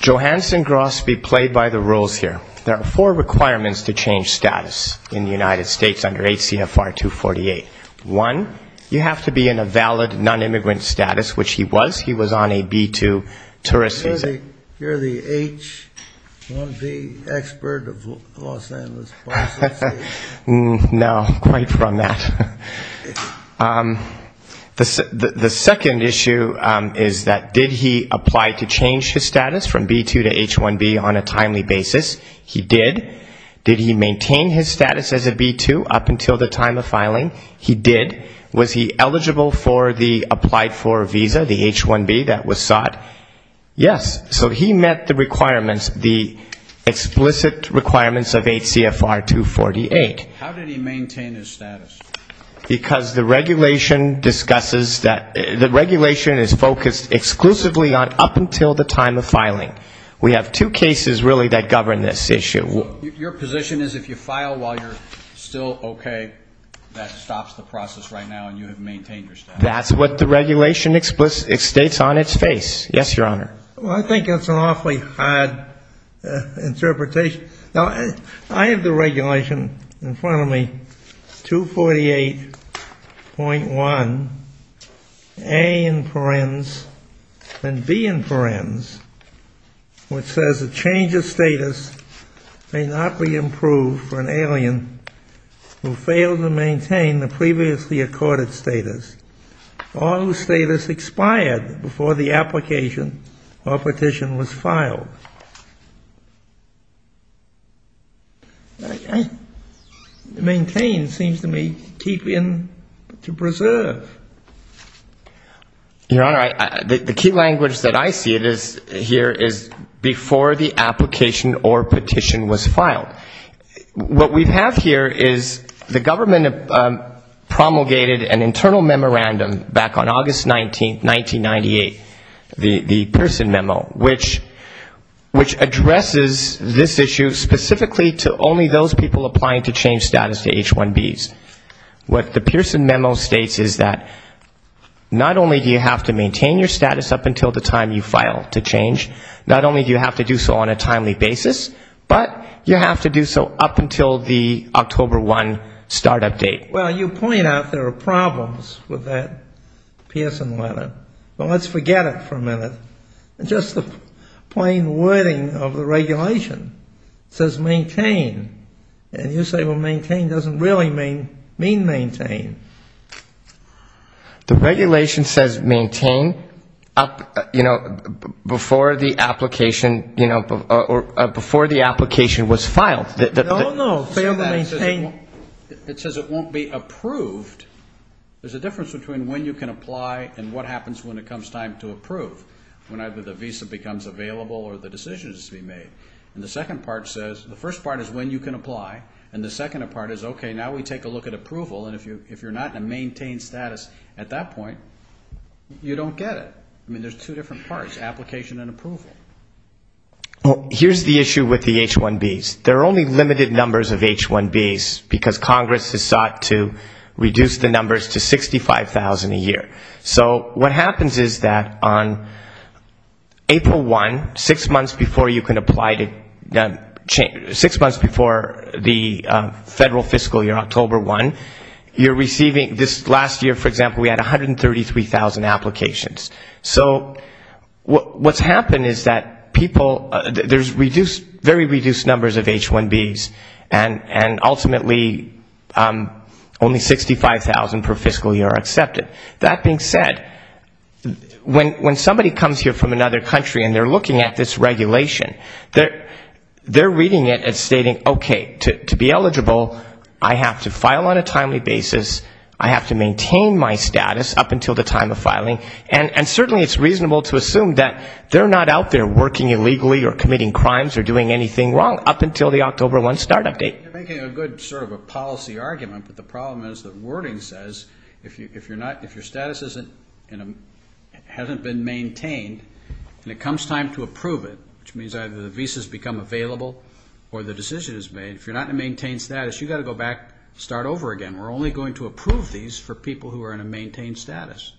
Johansson-Grossby played by the rules here. There are four requirements to change status in the United States under H.C.F.R. 248. One, you have to be in a valid nonimmigrant status, which he was. He was on a B-2 tourist visa. Did he apply to change his status from B-2 to H-1B on a timely basis? He did. Did he maintain his status as a B-2 up until the time of filing? He did. Was he eligible for the applied for visa, the H-1B that was sought? Yes. So he was on a B-2 tourist visa. So he met the requirements, the explicit requirements of H.C.F.R. 248. How did he maintain his status? Because the regulation discusses that the regulation is focused exclusively on up until the time of filing. We have two cases really that govern this issue. Your position is if you file while you're still okay, that stops the process right now and you have maintained your status? That's what the regulation states on its face. Yes, Your Honor. Well, I think it's an awfully hard interpretation. Now, I have the regulation in front of me, 248.1, A in forens and B in forens, which says the change of status may not be improved for an alien who failed to maintain the previously accorded status. All who say this expired before the application or petition was filed. Maintain seems to me to keep in, to preserve. Your Honor, the key language that I see it is here is before the application or petition was filed. What we have here is the government promulgated an internal memorandum of understanding. We have an internal memorandum back on August 19, 1998, the Pearson memo, which addresses this issue specifically to only those people applying to change status to H-1Bs. What the Pearson memo states is that not only do you have to maintain your status up until the time you file to change, not only do you have to do so on a timely basis, but you have to do so up until the October 1 start-up date. Well, you point out there are problems with that Pearson letter. But let's forget it for a minute. Just the plain wording of the regulation says maintain. And you say, well, maintain doesn't really mean maintain. The regulation says maintain up, you know, before the application, you know, or before the application was filed. No, no, failed to maintain. It says it won't be approved. There's a difference between when you can apply and what happens when it comes time to approve, when either the visa becomes available or the decision is to be made. And the second part says, the first part is when you can apply, and the second part is, okay, now we take a look at approval. And if you're not in a maintained status at that point, you don't get it. I mean, there's two different parts, application and approval. Well, here's the issue with the H-1Bs. There are only limited numbers of H-1Bs because Congress has sought to reduce the numbers to 65,000 a year. So what happens is that on April 1, six months before you can apply, six months before the federal fiscal year, October 1, you're receiving, this last year, for example, we had 133,000 applications. So what's happened is that people, there's very reduced numbers of H-1Bs, and ultimately only 65,000 per fiscal year are accepted. That being said, when somebody comes here from another country and they're looking at this regulation, they're reading it as stating, okay, to be eligible, I have to file on a timely basis, I have to maintain my status up until the time of filing, and certainly it's reasonable to assume that they're not out there working illegally or committing crimes or doing anything wrong up until the October 1 start-up date. You're making a good sort of a policy argument, but the problem is that wording says if your status hasn't been maintained and it comes time to approve it, which means either the visas become available or the decision is made, if you're not in a maintained status, you've got to go back and start over again. We're only going to approve these for people who are in a maintained status.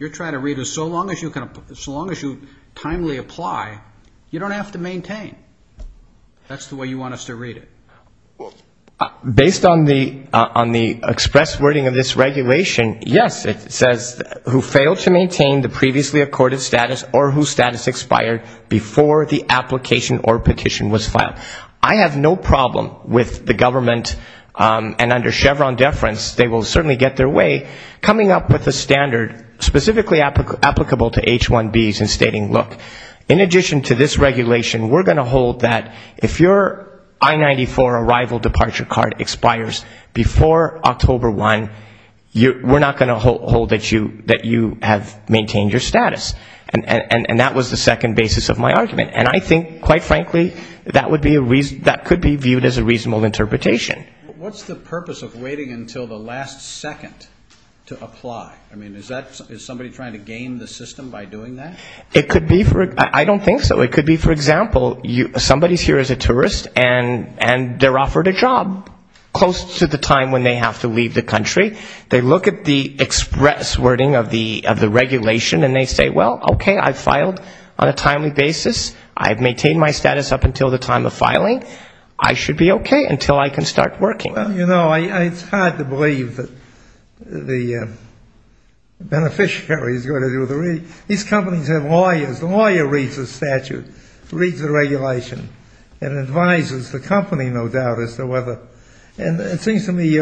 You're trying to read it as so long as you timely apply, you don't have to maintain. That's the way you want us to read it. Based on the express wording of this regulation, yes, it says who failed to maintain the previously accorded status or whose status expired before the application or petition was filed. I have no problem with the government, and under Chevron deference, they will certainly get their way, coming up with a standard specifically applicable to H-1Bs and stating, look, in addition to this regulation, we're going to hold that if your I-94 arrival departure card expires before October 1, we're not going to hold that you have maintained your status. And that was the second basis of my argument. And I think, quite frankly, that could be viewed as a reasonable interpretation. What's the purpose of waiting until the last second to apply? Is somebody trying to game the system by doing that? I don't think so. It could be, for example, somebody's here as a tourist, and they're offered a job close to the time when they have to leave the country. They look at the express wording of the regulation, and they say, well, okay, I've filed on a timely basis. I've maintained my status up until the time of filing. I should be okay until I can start working. Well, you know, it's hard to believe that the beneficiary is going to do the reading. These companies have lawyers. The lawyer reads the statute, reads the regulation, and advises the company, no doubt, as to whether. And it seems to me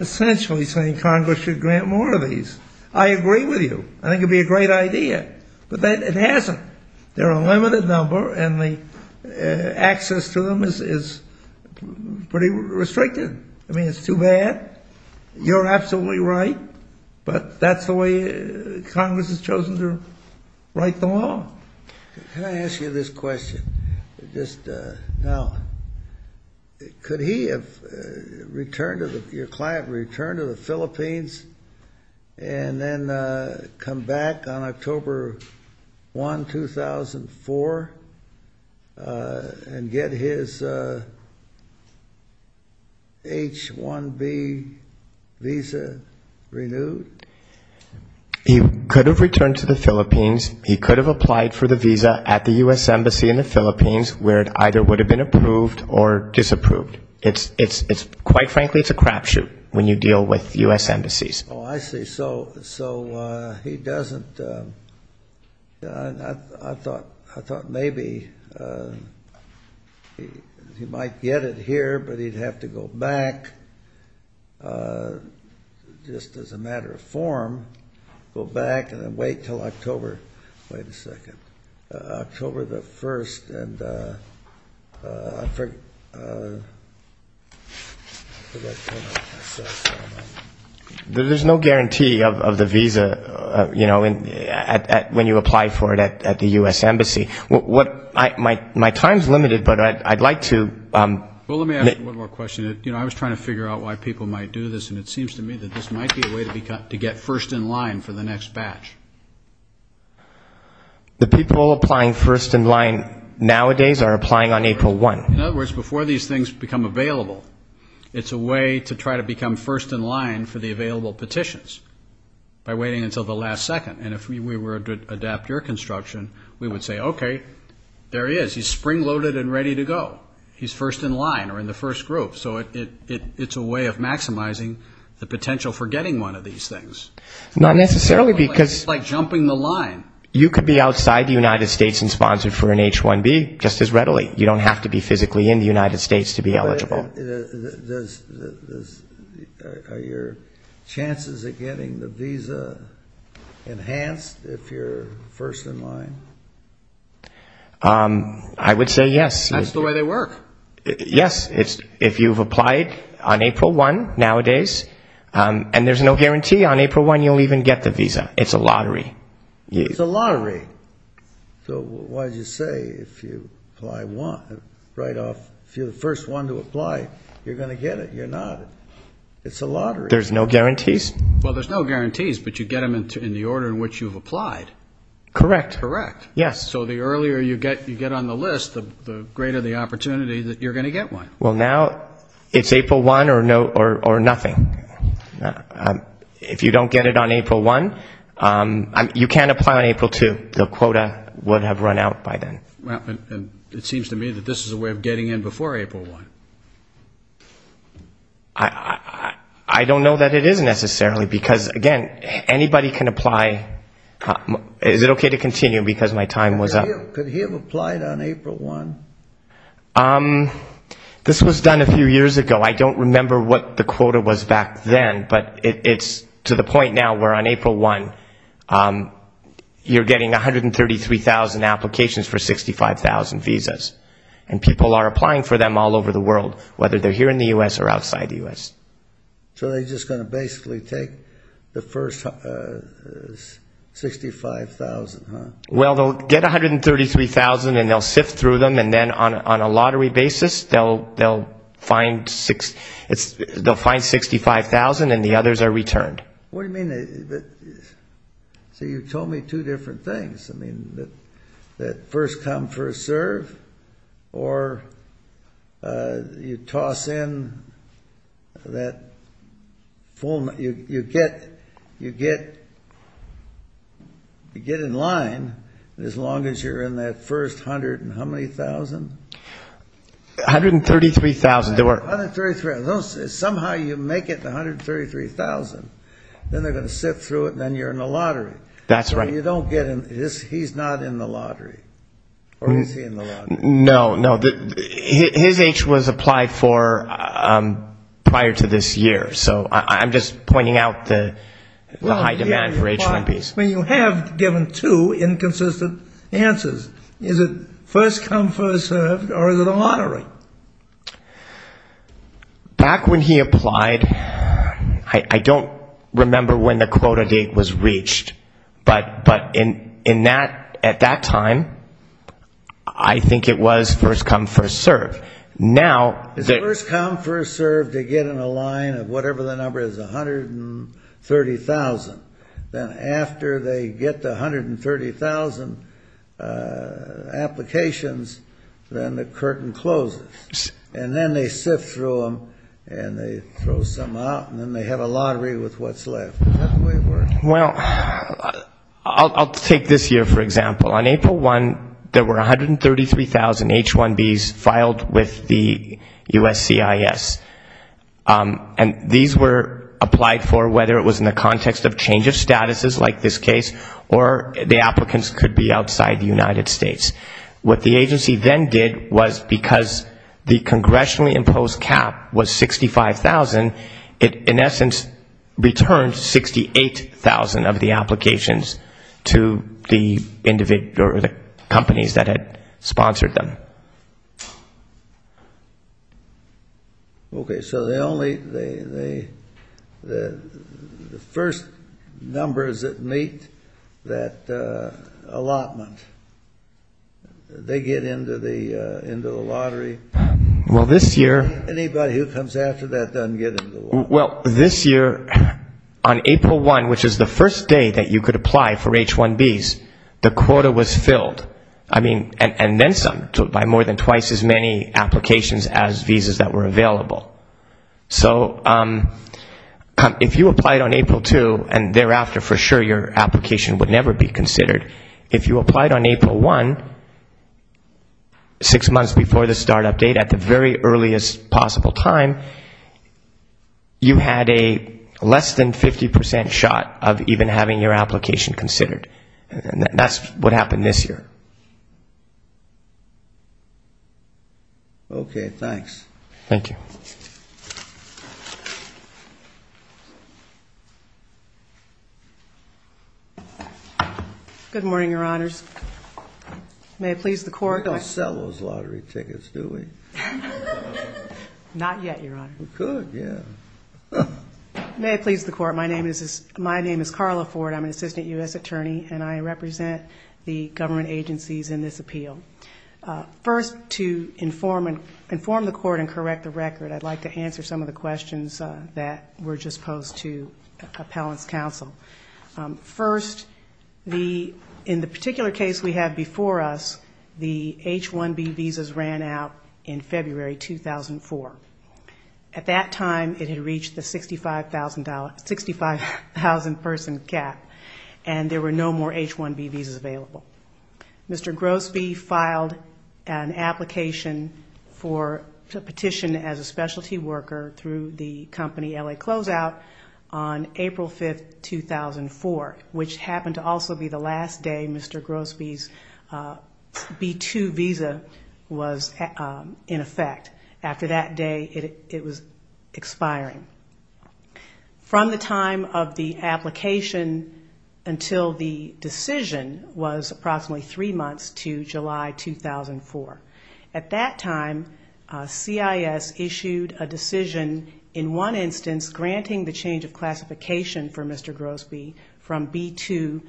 essentially saying Congress should grant more of these. I agree with you. I think it would be a great idea. But it hasn't. There are a limited number, and the access to them is pretty restricted. I mean, it's too bad. You're absolutely right. But that's the way Congress has chosen to write the law. Can I ask you this question? Now, could he have returned to the Philippines and then come back on October 1, 2004 and get his H-1B visa renewed? He could have returned to the Philippines. He could have applied for the visa at the U.S. Embassy in the Philippines, where it either would have been approved or disapproved. Quite frankly, it's a crapshoot when you deal with U.S. embassies. Oh, I see. So he doesn't. I thought maybe he might get it here, but he'd have to go back just as a matter of form, go back and then wait until October. Wait a second. October the 1st. And I forget. There's no guarantee of the visa when you apply for it at the U.S. Embassy. My time is limited, but I'd like to. Well, let me ask one more question. I was trying to figure out why people might do this, and it seems to me that this might be a way to get first in line for the next batch. The people applying first in line nowadays are applying on April 1. In other words, before these things become available, it's a way to try to become first in line for the available petitions by waiting until the last second. And if we were to adapt your construction, we would say, okay, there he is. He's spring-loaded and ready to go. He's first in line or in the first group. So it's a way of maximizing the potential for getting one of these things. It's like jumping the line. You could be outside the United States and sponsored for an H-1B just as readily. You don't have to be physically in the United States to be eligible. Are your chances of getting the visa enhanced if you're first in line? I would say yes. That's the way they work. Yes, if you've applied on April 1 nowadays, and there's no guarantee on April 1 you'll even get the visa. It's a lottery. It's a lottery. So why did you say if you're the first one to apply, you're going to get it? You're not. It's a lottery. There's no guarantees. Well, there's no guarantees, but you get them in the order in which you've applied. Correct. Correct. Yes. So the earlier you get on the list, the greater the opportunity that you're going to get one. Well, now it's April 1 or nothing. If you don't get it on April 1, you can't apply on April 2. The quota would have run out by then. It seems to me that this is a way of getting in before April 1. I don't know that it is necessarily because, again, anybody can apply. Is it okay to continue because my time was up? Could he have applied on April 1? This was done a few years ago. I don't remember what the quota was back then, but it's to the point now where on April 1 you're getting 133,000 applications for 65,000 visas. And people are applying for them all over the world, whether they're here in the U.S. or outside the U.S. So they're just going to basically take the first 65,000, huh? Well, they'll get 133,000 and they'll sift through them, and then on a lottery basis they'll find 65,000 and the others are returned. What do you mean? So you told me two different things. I mean that first come, first serve, or you toss in that full – you get in line as long as you're in that first hundred and how many thousand? 133,000. Somehow you make it to 133,000, then they're going to sift through it, and then you're in the lottery. That's right. So you don't get – he's not in the lottery, or is he in the lottery? No, no. His age was applied for prior to this year, so I'm just pointing out the high demand for H-1Bs. You have given two inconsistent answers. Is it first come, first serve, or is it a lottery? Back when he applied, I don't remember when the quota date was reached, but at that time I think it was first come, first serve. First come, first serve, they get in a line of whatever the number is, 130,000. Then after they get the 130,000 applications, then the curtain closes. And then they sift through them, and they throw some out, and then they have a lottery with what's left. Is that the way it works? Well, I'll take this year, for example. On April 1, there were 133,000 H-1Bs filed with the USCIS. And these were applied for whether it was in the context of change of statuses, like this case, or the applicants could be outside the United States. What the agency then did was because the congressionally imposed cap was 65,000, it in essence returned 68,000 of the applications to the companies that had sponsored them. Okay, so the first numbers that meet that allotment, they get into the lottery. Anybody who comes after that doesn't get into the lottery. Well, this year, on April 1, which is the first day that you could apply for H-1Bs, the quota was filled. I mean, and then some, by more than twice as many applications as visas that were available. So if you applied on April 2, and thereafter, for sure, your application would never be considered. If you applied on April 1, six months before the start-up date, at the very earliest possible time, you had a less than 50% shot of even having your application considered. And that's what happened this year. Okay, thanks. Thank you. Good morning, Your Honors. May it please the Court. We don't sell those lottery tickets, do we? Not yet, Your Honor. We could, yeah. May it please the Court. My name is Carla Ford. I'm an assistant U.S. attorney, and I represent the government agencies in this appeal. First, to inform the Court and correct the record, I'd like to answer some of the questions that were just posed to appellants' counsel. First, in the particular case we have before us, the H-1B visas ran out in February 2004. At that time, it had reached the 65,000-person cap, and there were no more H-1B visas available. Mr. Grosbe filed an application for petition as a specialty worker through the company L.A. Closeout on April 5, 2004, which happened to also be the last day Mr. Grosbe's B-2 visa was in effect. After that day, it was expiring. From the time of the application until the decision was approximately three months to July 2004. At that time, CIS issued a decision, in one instance, granting the change of classification for Mr. Grosbe from B-2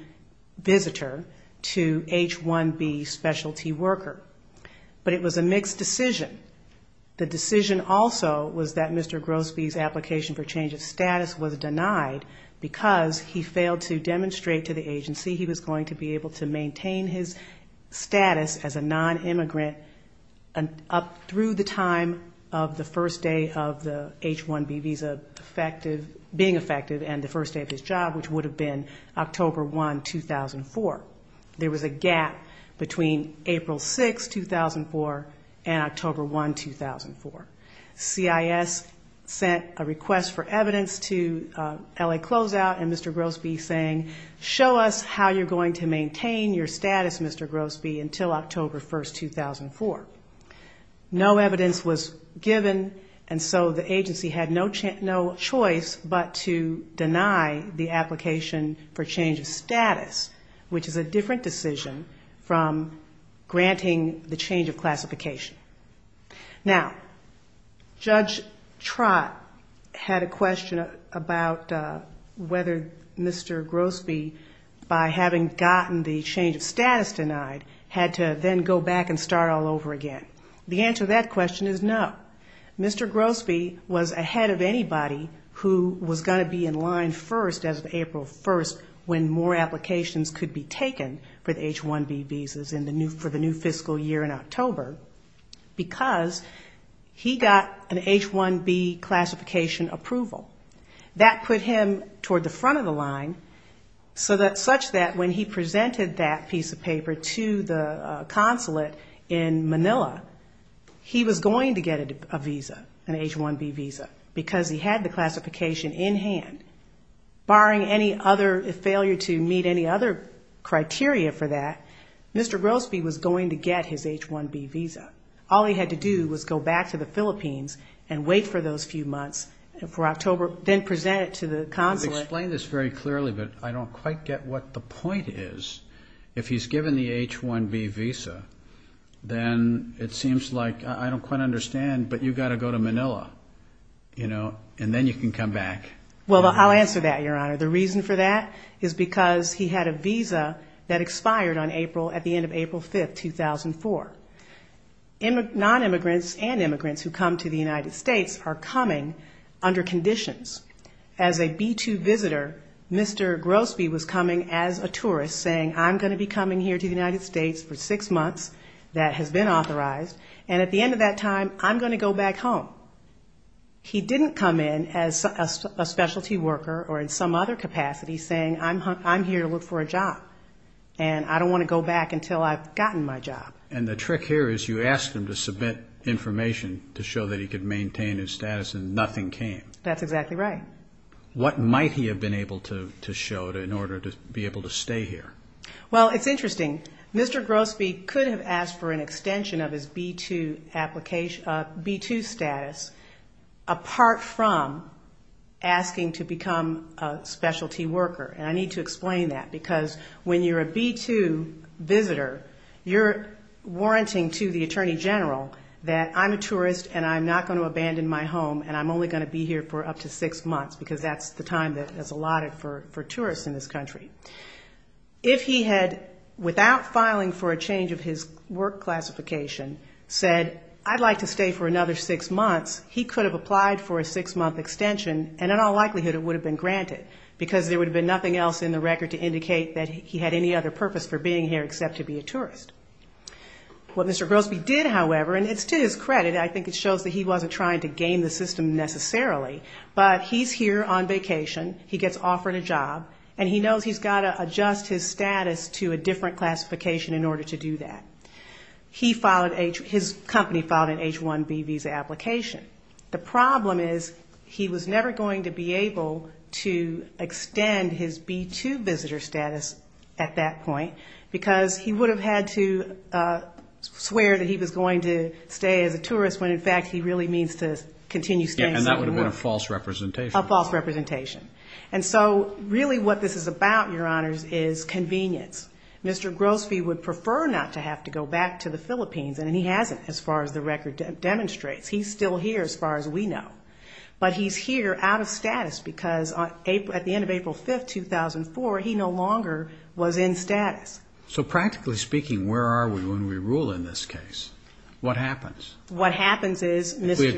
visitor to H-1B specialty worker. But it was a mixed decision. The decision also was that Mr. Grosbe's application for change of status was denied because he failed to demonstrate to the agency he was going to be able to maintain his status as a non-immigrant up through the time of the first day of the H-1B visa being effective and the first day of his job, which would have been October 1, 2004. There was a gap between April 6, 2004 and October 1, 2004. CIS sent a request for evidence to L.A. Closeout and Mr. Grosbe saying, show us how you're going to maintain your status, Mr. Grosbe, until October 1, 2004. No evidence was given, and so the agency had no choice but to deny the application for change of status, which is a different decision from granting the change of classification. Now, Judge Trott had a question about whether Mr. Grosbe, by having gotten the change of status denied, had to then go back and start all over again. The answer to that question is no. Mr. Grosbe was ahead of anybody who was going to be in line first as of April 1st when more applications could be taken for the H-1B visas for the new fiscal year in October because he got an H-1B classification approval. That put him toward the front of the line such that when he presented that piece of paper to the consulate in Manila, he was going to get a visa, an H-1B visa, because he had the classification in hand. Barring any other failure to meet any other criteria for that, Mr. Grosbe was going to get his H-1B visa. All he had to do was go back to the Philippines and wait for those few months for October, then present it to the consulate. You've explained this very clearly, but I don't quite get what the point is. If he's given the H-1B visa, then it seems like, I don't quite understand, but you've got to go to Manila, you know, and then you can come back. Well, I'll answer that, Your Honor. The reason for that is because he had a visa that expired on April, at the end of April 5th, 2004. Non-immigrants and immigrants who come to the United States are coming under conditions. As a B-2 visitor, Mr. Grosbe was coming as a tourist, saying, I'm going to be coming here to the United States for six months, that has been authorized, and at the end of that time, I'm going to go back home. He didn't come in as a specialty worker or in some other capacity, saying, I'm here to look for a job, and I don't want to go back until I've gotten my job. And the trick here is you asked him to submit information to show that he could maintain his status, and nothing came. That's exactly right. What might he have been able to show in order to be able to stay here? Well, it's interesting. Mr. Grosbe could have asked for an extension of his B-2 status, apart from asking to become a specialty worker. And I need to explain that, because when you're a B-2 visitor, you're warranting to the Attorney General that I'm a tourist and I'm not going to abandon my home and I'm only going to be here for up to six months, because that's the time that's allotted for tourists in this country. If he had, without filing for a change of his work classification, said, I'd like to stay for another six months, he could have applied for a six-month extension, and in all likelihood it would have been granted, because there would have been nothing else in the record to indicate that he had any other purpose for being here except to be a tourist. What Mr. Grosbe did, however, and it's to his credit, I think it shows that he wasn't trying to game the system necessarily, but he's here on vacation, he gets offered a job, and he knows he's got to adjust his status to a different classification in order to do that. His company filed an H-1B visa application. The problem is he was never going to be able to extend his B-2 visitor status at that point, because he would have had to swear that he was going to stay as a tourist, when in fact he really means to continue staying somewhere. And that would have been a false representation. A false representation. And so really what this is about, Your Honors, is convenience. Mr. Grosbe would prefer not to have to go back to the Philippines, and he hasn't as far as the record demonstrates. He's still here as far as we know. But he's here out of status because at the end of April 5, 2004, he no longer was in status. So practically speaking, where are we when we rule in this case? What happens? What happens is Mr.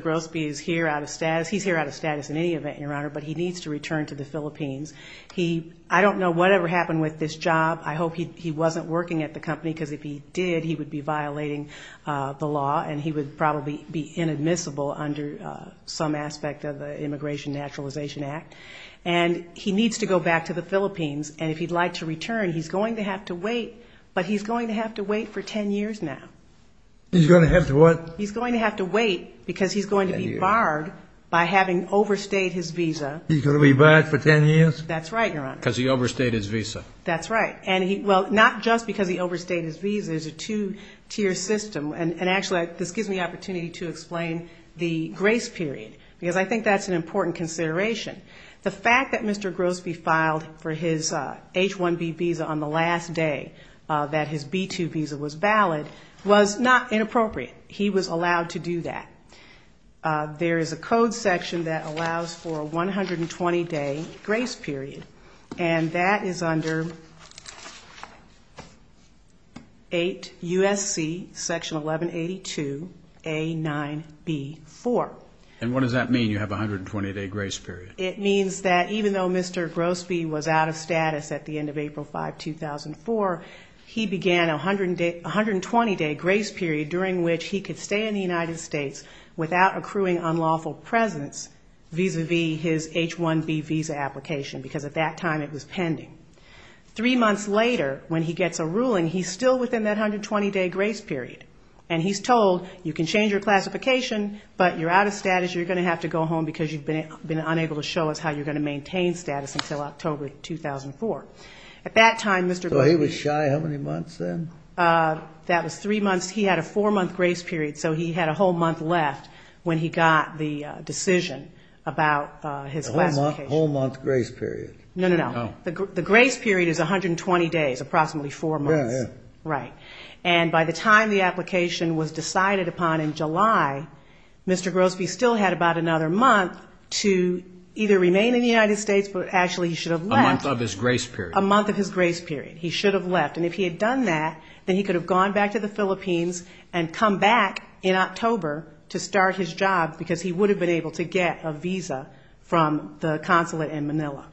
Grosbe is here out of status. He's here out of status in any event, Your Honor, but he needs to return to the Philippines. I don't know whatever happened with this job. I hope he wasn't working at the company because if he did, he would be violating the law and he would probably be inadmissible under some aspect of the Immigration Naturalization Act. And he needs to go back to the Philippines, and if he'd like to return, he's going to have to wait, but he's going to have to wait for 10 years now. He's going to have to what? He's going to have to wait because he's going to be barred by having overstayed his visa. He's going to be barred for 10 years? That's right, Your Honor. Because he overstayed his visa. That's right. Well, not just because he overstayed his visa. It's a two-tier system, and actually this gives me the opportunity to explain the grace period because I think that's an important consideration. The fact that Mr. Grosbe filed for his H-1B visa on the last day that his B-2 visa was valid was not inappropriate. He was allowed to do that. There is a code section that allows for a 120-day grace period, and that is under 8 U.S.C. Section 1182A9B4. And what does that mean, you have a 120-day grace period? It means that even though Mr. Grosbe was out of status at the end of April 5, 2004, he began a 120-day grace period during which he could stay in the United States without accruing unlawful presence vis-à-vis his H-1B visa application because at that time it was pending. Three months later, when he gets a ruling, he's still within that 120-day grace period, and he's told you can change your classification, but you're out of status, you're going to have to go home because you've been unable to show us how you're going to maintain status until October 2004. So he was shy how many months then? That was three months. He had a four-month grace period, so he had a whole month left when he got the decision about his classification. A whole-month grace period. No, no, no. The grace period is 120 days, approximately four months. Right. And by the time the application was decided upon in July, Mr. Grosbe still had about another month to either remain in the United States, but actually he should have left. A month of his grace period. A month of his grace period. He should have left. And if he had done that, then he could have gone back to the Philippines and come back in October to start his job because he would have been able to get a visa from the consulate in Manila.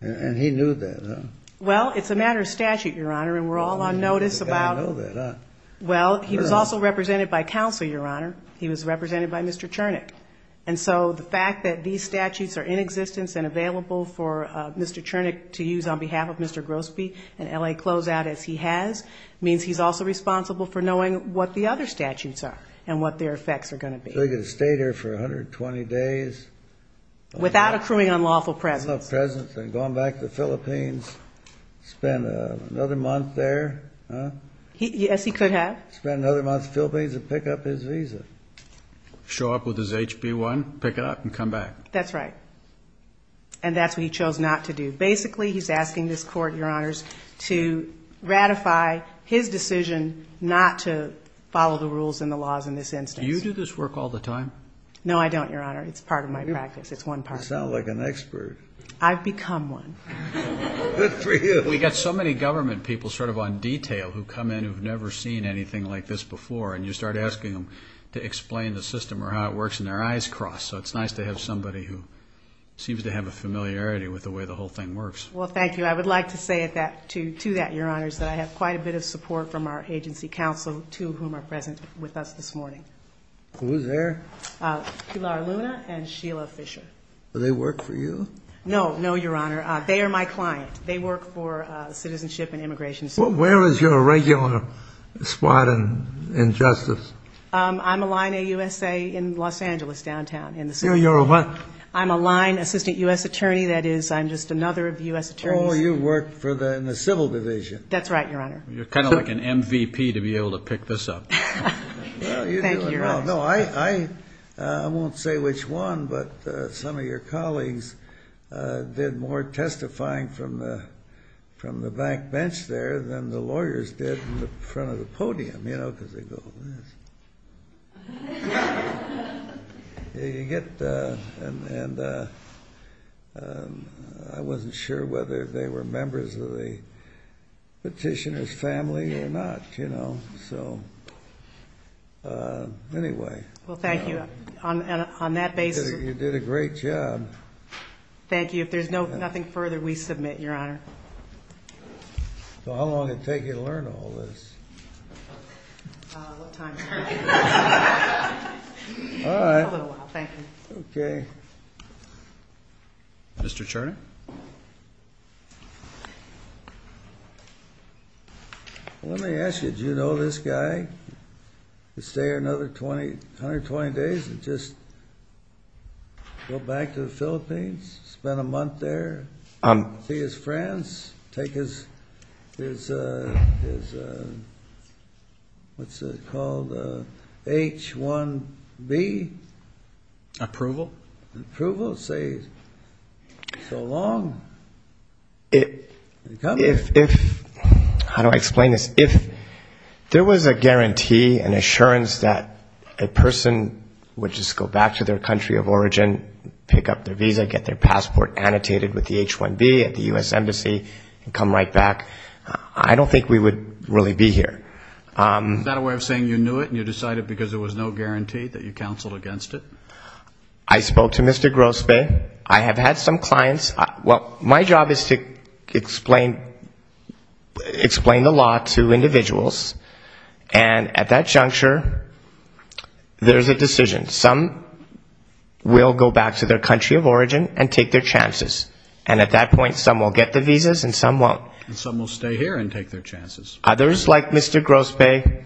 And he knew that, huh? Well, it's a matter of statute, Your Honor, and we're all on notice about it. Well, he was also represented by counsel, Your Honor. He was represented by Mr. Chernick. And so the fact that these statutes are in existence and available for Mr. Chernick to use on behalf of Mr. Grosbe and L.A. Closeout as he has means he's also responsible for knowing what the other statutes are and what their effects are going to be. So he could have stayed here for 120 days. Without accruing unlawful presence. Without presence and gone back to the Philippines, spent another month there, huh? Yes, he could have. Spent another month in the Philippines to pick up his visa. Show up with his HB-1, pick it up, and come back. That's right. And that's what he chose not to do. Basically, he's asking this Court, Your Honors, to ratify his decision not to follow the rules and the laws in this instance. Do you do this work all the time? No, I don't, Your Honor. It's part of my practice. It's one part. You sound like an expert. I've become one. Good for you. We've got so many government people sort of on detail who come in who have never seen anything like this before, and you start asking them to explain the system or how it works, and their eyes cross. So it's nice to have somebody who seems to have a familiarity with the way the whole thing works. Well, thank you. I would like to say to that, Your Honors, that I have quite a bit of support from our agency counsel, two of whom are present with us this morning. Who's there? Pilar Luna and Sheila Fisher. Do they work for you? No, no, Your Honor. They are my client. They work for Citizenship and Immigration Services. Where is your regular spot in justice? I'm a line AUSA in Los Angeles downtown. You're a what? I'm a line assistant U.S. attorney. That is, I'm just another of U.S. attorneys. Oh, you work in the civil division. That's right, Your Honor. You're kind of like an MVP to be able to pick this up. Thank you, Your Honor. I won't say which one, but some of your colleagues did more testifying from the back bench there than the lawyers did in the front of the podium, you know, because they go like this. I wasn't sure whether they were members of the petitioner's family or not. So anyway. Well, thank you. On that basis. You did a great job. Thank you. If there's nothing further, we submit, Your Honor. So how long did it take you to learn all this? What time? All right. A little while. Thank you. Okay. Mr. Turner? Let me ask you, do you know this guy? He'll stay here another 120 days and just go back to the Philippines, spend a month there, see his friends, take his, what's it called, H-1B? Approval. Approval. So long. How do I explain this? If there was a guarantee, an assurance that a person would just go back to their country of origin, pick up their visa, get their passport annotated with the H-1B at the U.S. Embassy and come right back, I don't think we would really be here. Is that a way of saying you knew it and you decided because there was no guarantee that you counseled against it? I spoke to Mr. Grosbeck. I have had some clients. Well, my job is to explain the law to individuals, and at that juncture, there's a decision. Some will go back to their country of origin and take their chances, and at that point some will get the visas and some won't. And some will stay here and take their chances. Others, like Mr. Grosbeck,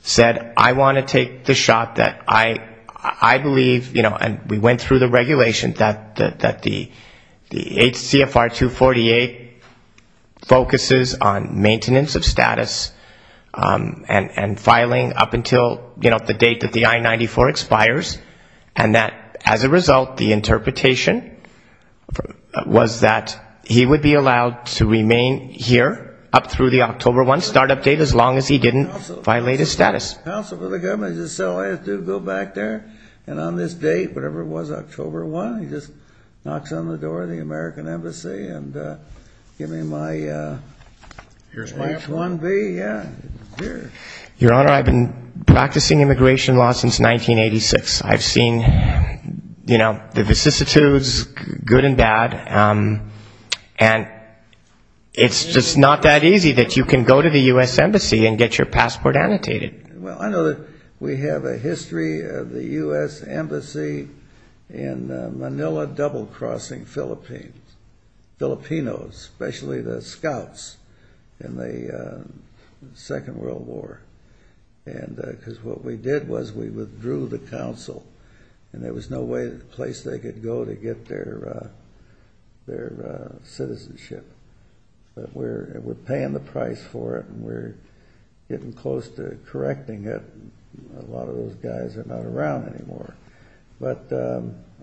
said, I want to take the shot that I believe, you know, and we went through the regulation that the HCFR 248 focuses on maintenance of status and filing up until, you know, the date that the I-94 expires, and that, as a result, the interpretation was that he would be allowed to remain here up through the October 1 start-up date, as long as he didn't violate his status. Counsel for the government just said, well, I have to go back there. And on this date, whatever it was, October 1, he just knocks on the door of the American Embassy and give me my H-1B, yeah. Your Honor, I've been practicing immigration law since 1986. I've seen, you know, the vicissitudes, good and bad, and it's just not that easy that you can go to the U.S. Embassy and get your passport annotated. Well, I know that we have a history of the U.S. Embassy in Manila double-crossing Philippines, Filipinos, especially the scouts in the Second World War, because what we did was we withdrew the counsel, and there was no place they could go to get their citizenship. But we're paying the price for it, and we're getting close to correcting it. A lot of those guys are not around anymore. But,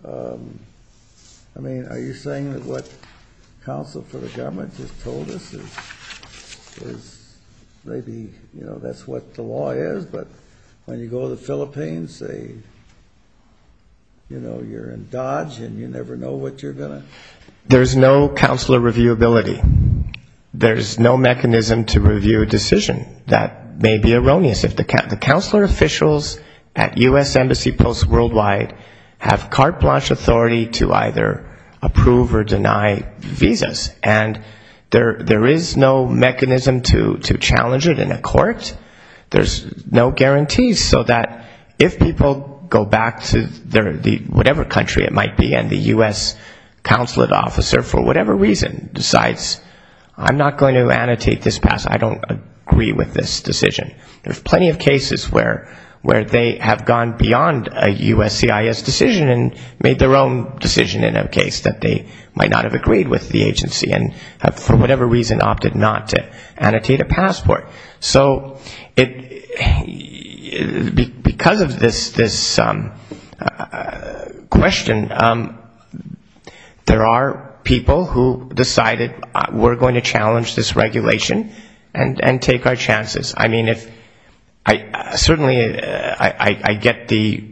I mean, are you saying that what counsel for the government just told us is maybe, you know, that's what the law is? But when you go to the Philippines, they, you know, you're in Dodge and you never know what you're going to. There's no counselor reviewability. There's no mechanism to review a decision. That may be erroneous. The counselor officials at U.S. Embassy posts worldwide have carte blanche authority to either approve or deny visas. And there is no mechanism to challenge it in a court. There's no guarantees so that if people go back to whatever country it might be and the U.S. consulate officer for whatever reason decides, I'm not going to annotate this pass, I don't agree with this decision. There's plenty of cases where they have gone beyond a U.S. CIS decision and made their own decision in a case that they might not have agreed with the agency and for whatever reason opted not to annotate a passport. So because of this question, there are people who decided we're going to challenge this regulation and take our chances. I mean, certainly I get the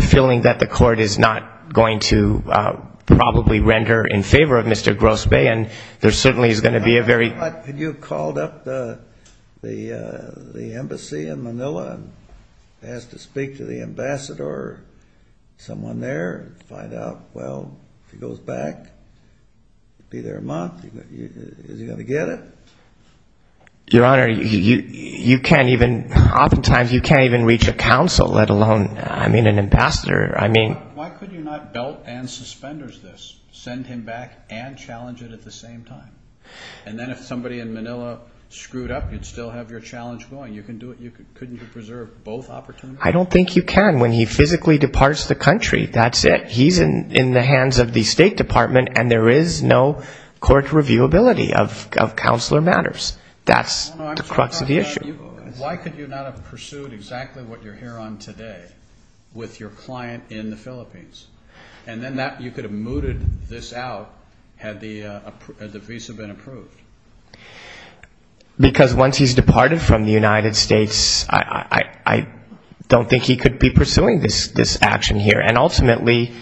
feeling that the court is not going to probably render in favor of Mr. Grosbeck and there certainly is going to be a very... You called up the embassy in Manila and asked to speak to the ambassador, someone there, to find out, well, if he goes back, be there a month, is he going to get it? Your Honor, you can't even, oftentimes you can't even reach a counsel, let alone, I mean, an ambassador. Why could you not belt and suspend this, send him back and challenge it at the same time? And then if somebody in Manila screwed up, you'd still have your challenge going. Couldn't you preserve both opportunities? I don't think you can. When he physically departs the country, that's it. He's in the hands of the State Department and there is no court reviewability of counselor matters. That's the crux of the issue. Why could you not have pursued exactly what you're here on today with your client in the Philippines? And then you could have mooted this out had the visa been approved. Because once he's departed from the United States, I don't think he could be pursuing this action here. And ultimately,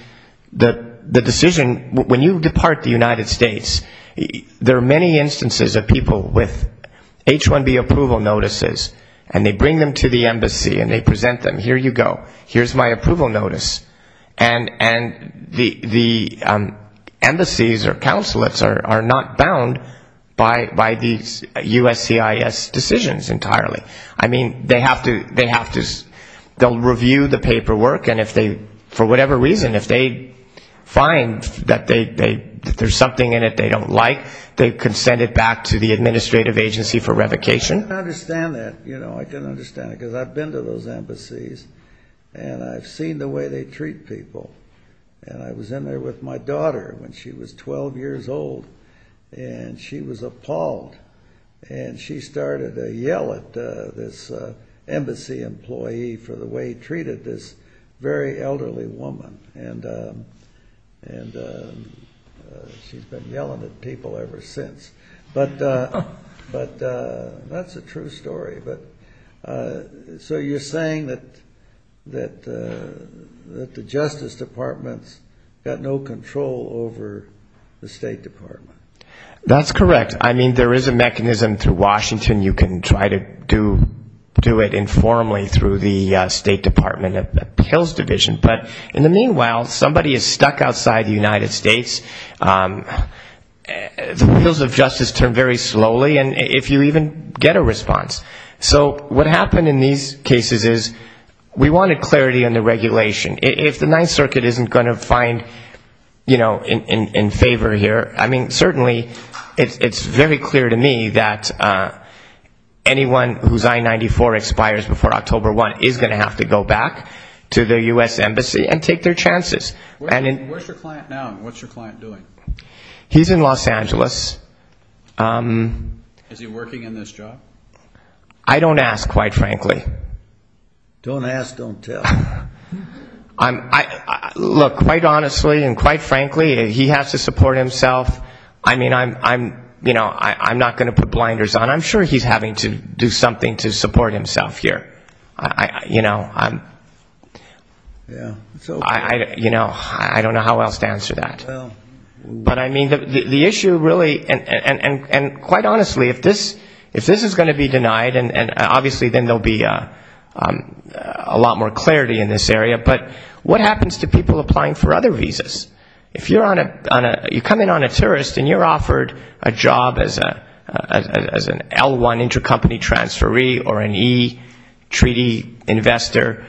the decision, when you depart the United States, there are many instances of people with H-1B approval notices and they bring them to the embassy and they present them, here you go, here's my approval notice. And the embassies or consulates are not bound by these USCIS decisions entirely. I mean, they'll review the paperwork and if they, for whatever reason, if they find that there's something in it they don't like, they can send it back to the administrative agency for revocation. I didn't understand that. I didn't understand it because I've been to those embassies and I've seen the way they treat people. And I was in there with my daughter when she was 12 years old and she was appalled. And she started to yell at this embassy employee for the way he treated this very elderly woman. And she's been yelling at people ever since. But that's a true story. But so you're saying that the Justice Department's got no control over the State Department. That's correct. I mean, there is a mechanism through Washington. You can try to do it informally through the State Department of Appeals Division. But in the meanwhile, somebody is stuck outside the United States. The wheels of justice turn very slowly. And if you even get a response. So what happened in these cases is we wanted clarity on the regulation. If the Ninth Circuit isn't going to find, you know, in favor here. I mean, certainly it's very clear to me that anyone whose I-94 expires before October 1 is going to have to go back to the U.S. Embassy and take their chances. Where's your client now and what's your client doing? He's in Los Angeles. Is he working in this job? I don't ask, quite frankly. Don't ask, don't tell. Look, quite honestly and quite frankly, he has to support himself. I mean, I'm not going to put blinders on. I'm sure he's having to do something to support himself here. You know, I don't know how else to answer that. But I mean, the issue really, and quite honestly, if this is going to be denied, and obviously then there will be a lot more clarity in this area, but what happens to people applying for other visas? If you come in on a tourist and you're offered a job as an L-1 intercompany transferee or an E-Treaty investor,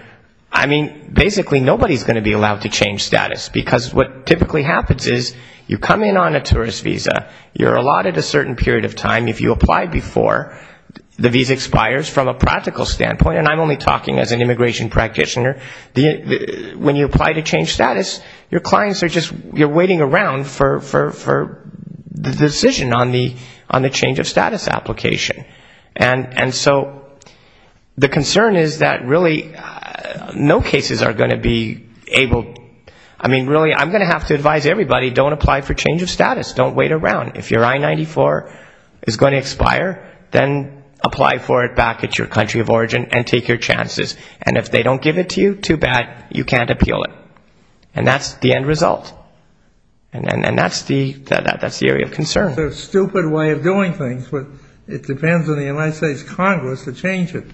I mean, basically nobody is going to be allowed to change status because what typically happens is you come in on a tourist visa, you're allotted a certain period of time. If you apply before, the visa expires from a practical standpoint, and I'm only talking as an immigration practitioner. When you apply to change status, your clients are just waiting around for the decision on the change of status application. And so the concern is that really no cases are going to be able, I mean, really, I'm going to have to advise everybody, don't apply for change of status. Don't wait around. If your I-94 is going to expire, then apply for it back at your country of origin and take your chances. And if they don't give it to you, too bad, you can't appeal it. And that's the end result. And that's the area of concern. It's a stupid way of doing things, but it depends on the United States Congress to change it.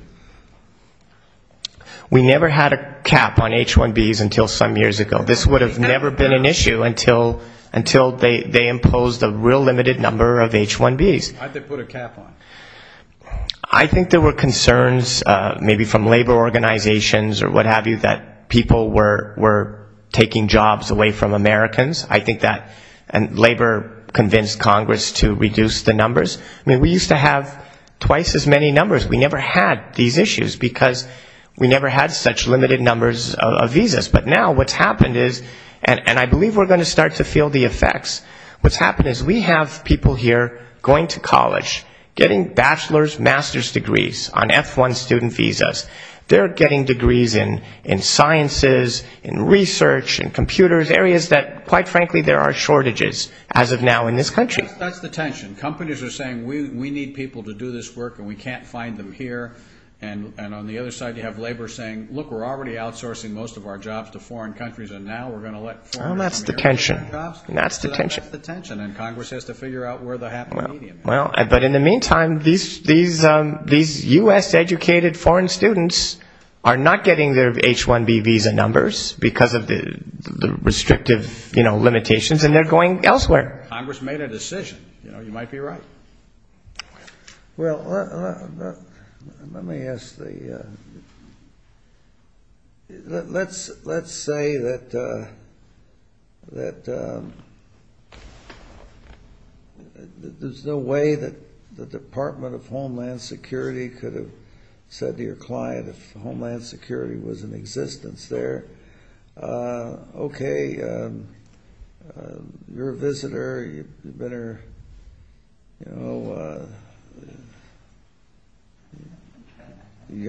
We never had a cap on H-1Bs until some years ago. This would have never been an issue until they imposed a real limited number of H-1Bs. Why did they put a cap on? I think there were concerns, maybe from labor organizations or what have you, that people were taking jobs away from Americans. I think that labor convinced Congress to reduce the numbers. I mean, we used to have twice as many numbers. We never had these issues because we never had such limited numbers of visas. But now what's happened is, and I believe we're going to start to feel the effects, what's happened is we have people here going to college, getting bachelor's, master's degrees on F-1 student visas. They're getting degrees in sciences, in research, in computers, areas that, quite frankly, there are shortages as of now in this country. That's the tension. Companies are saying we need people to do this work and we can't find them here. And on the other side you have labor saying, look, we're already outsourcing most of our jobs to foreign countries and now we're going to let foreigners come here and get jobs. That's the tension. That's the tension. And Congress has to figure out where the happy medium is. But in the meantime, these U.S.-educated foreign students are not getting their H-1B visa numbers because of the restrictive limitations, and they're going elsewhere. Congress made a decision. You might be right. Well, let me ask the question. Let's say that there's no way that the Department of Homeland Security could have said to your client if Homeland Security was in existence there, okay, you're a visitor, you've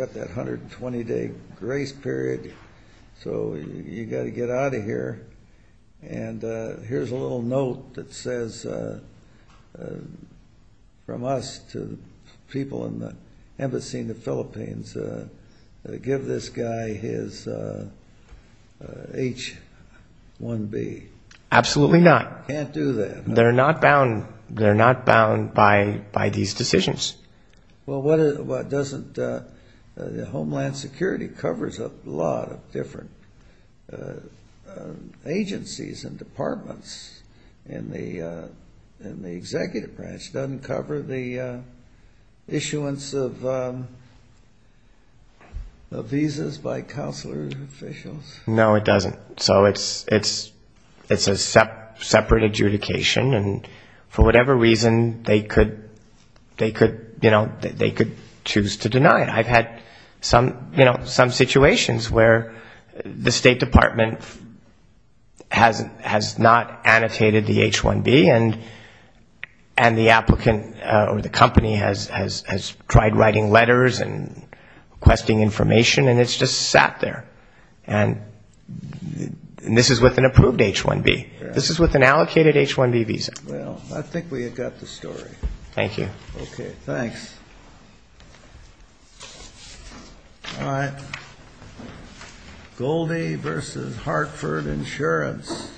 got that 120-day grace period, so you've got to get out of here. And here's a little note that says, from us to people in the embassy in the Philippines, give this guy his H-1B. Absolutely not. You can't do that. They're not bound by these decisions. Well, Homeland Security covers a lot of different agencies and departments. And the executive branch doesn't cover the issuance of visas by consular officials. No, it doesn't. So it's a separate adjudication. And for whatever reason, they could choose to deny it. I've had some situations where the State Department has not annotated the H-1B, and the applicant or the company has tried writing letters and requesting information, and it's just sat there. And this is with an approved H-1B. This is with an allocated H-1B visa. Well, I think we have got the story. Thank you. Okay, thanks. All right. Goldie v. Hartford Insurance.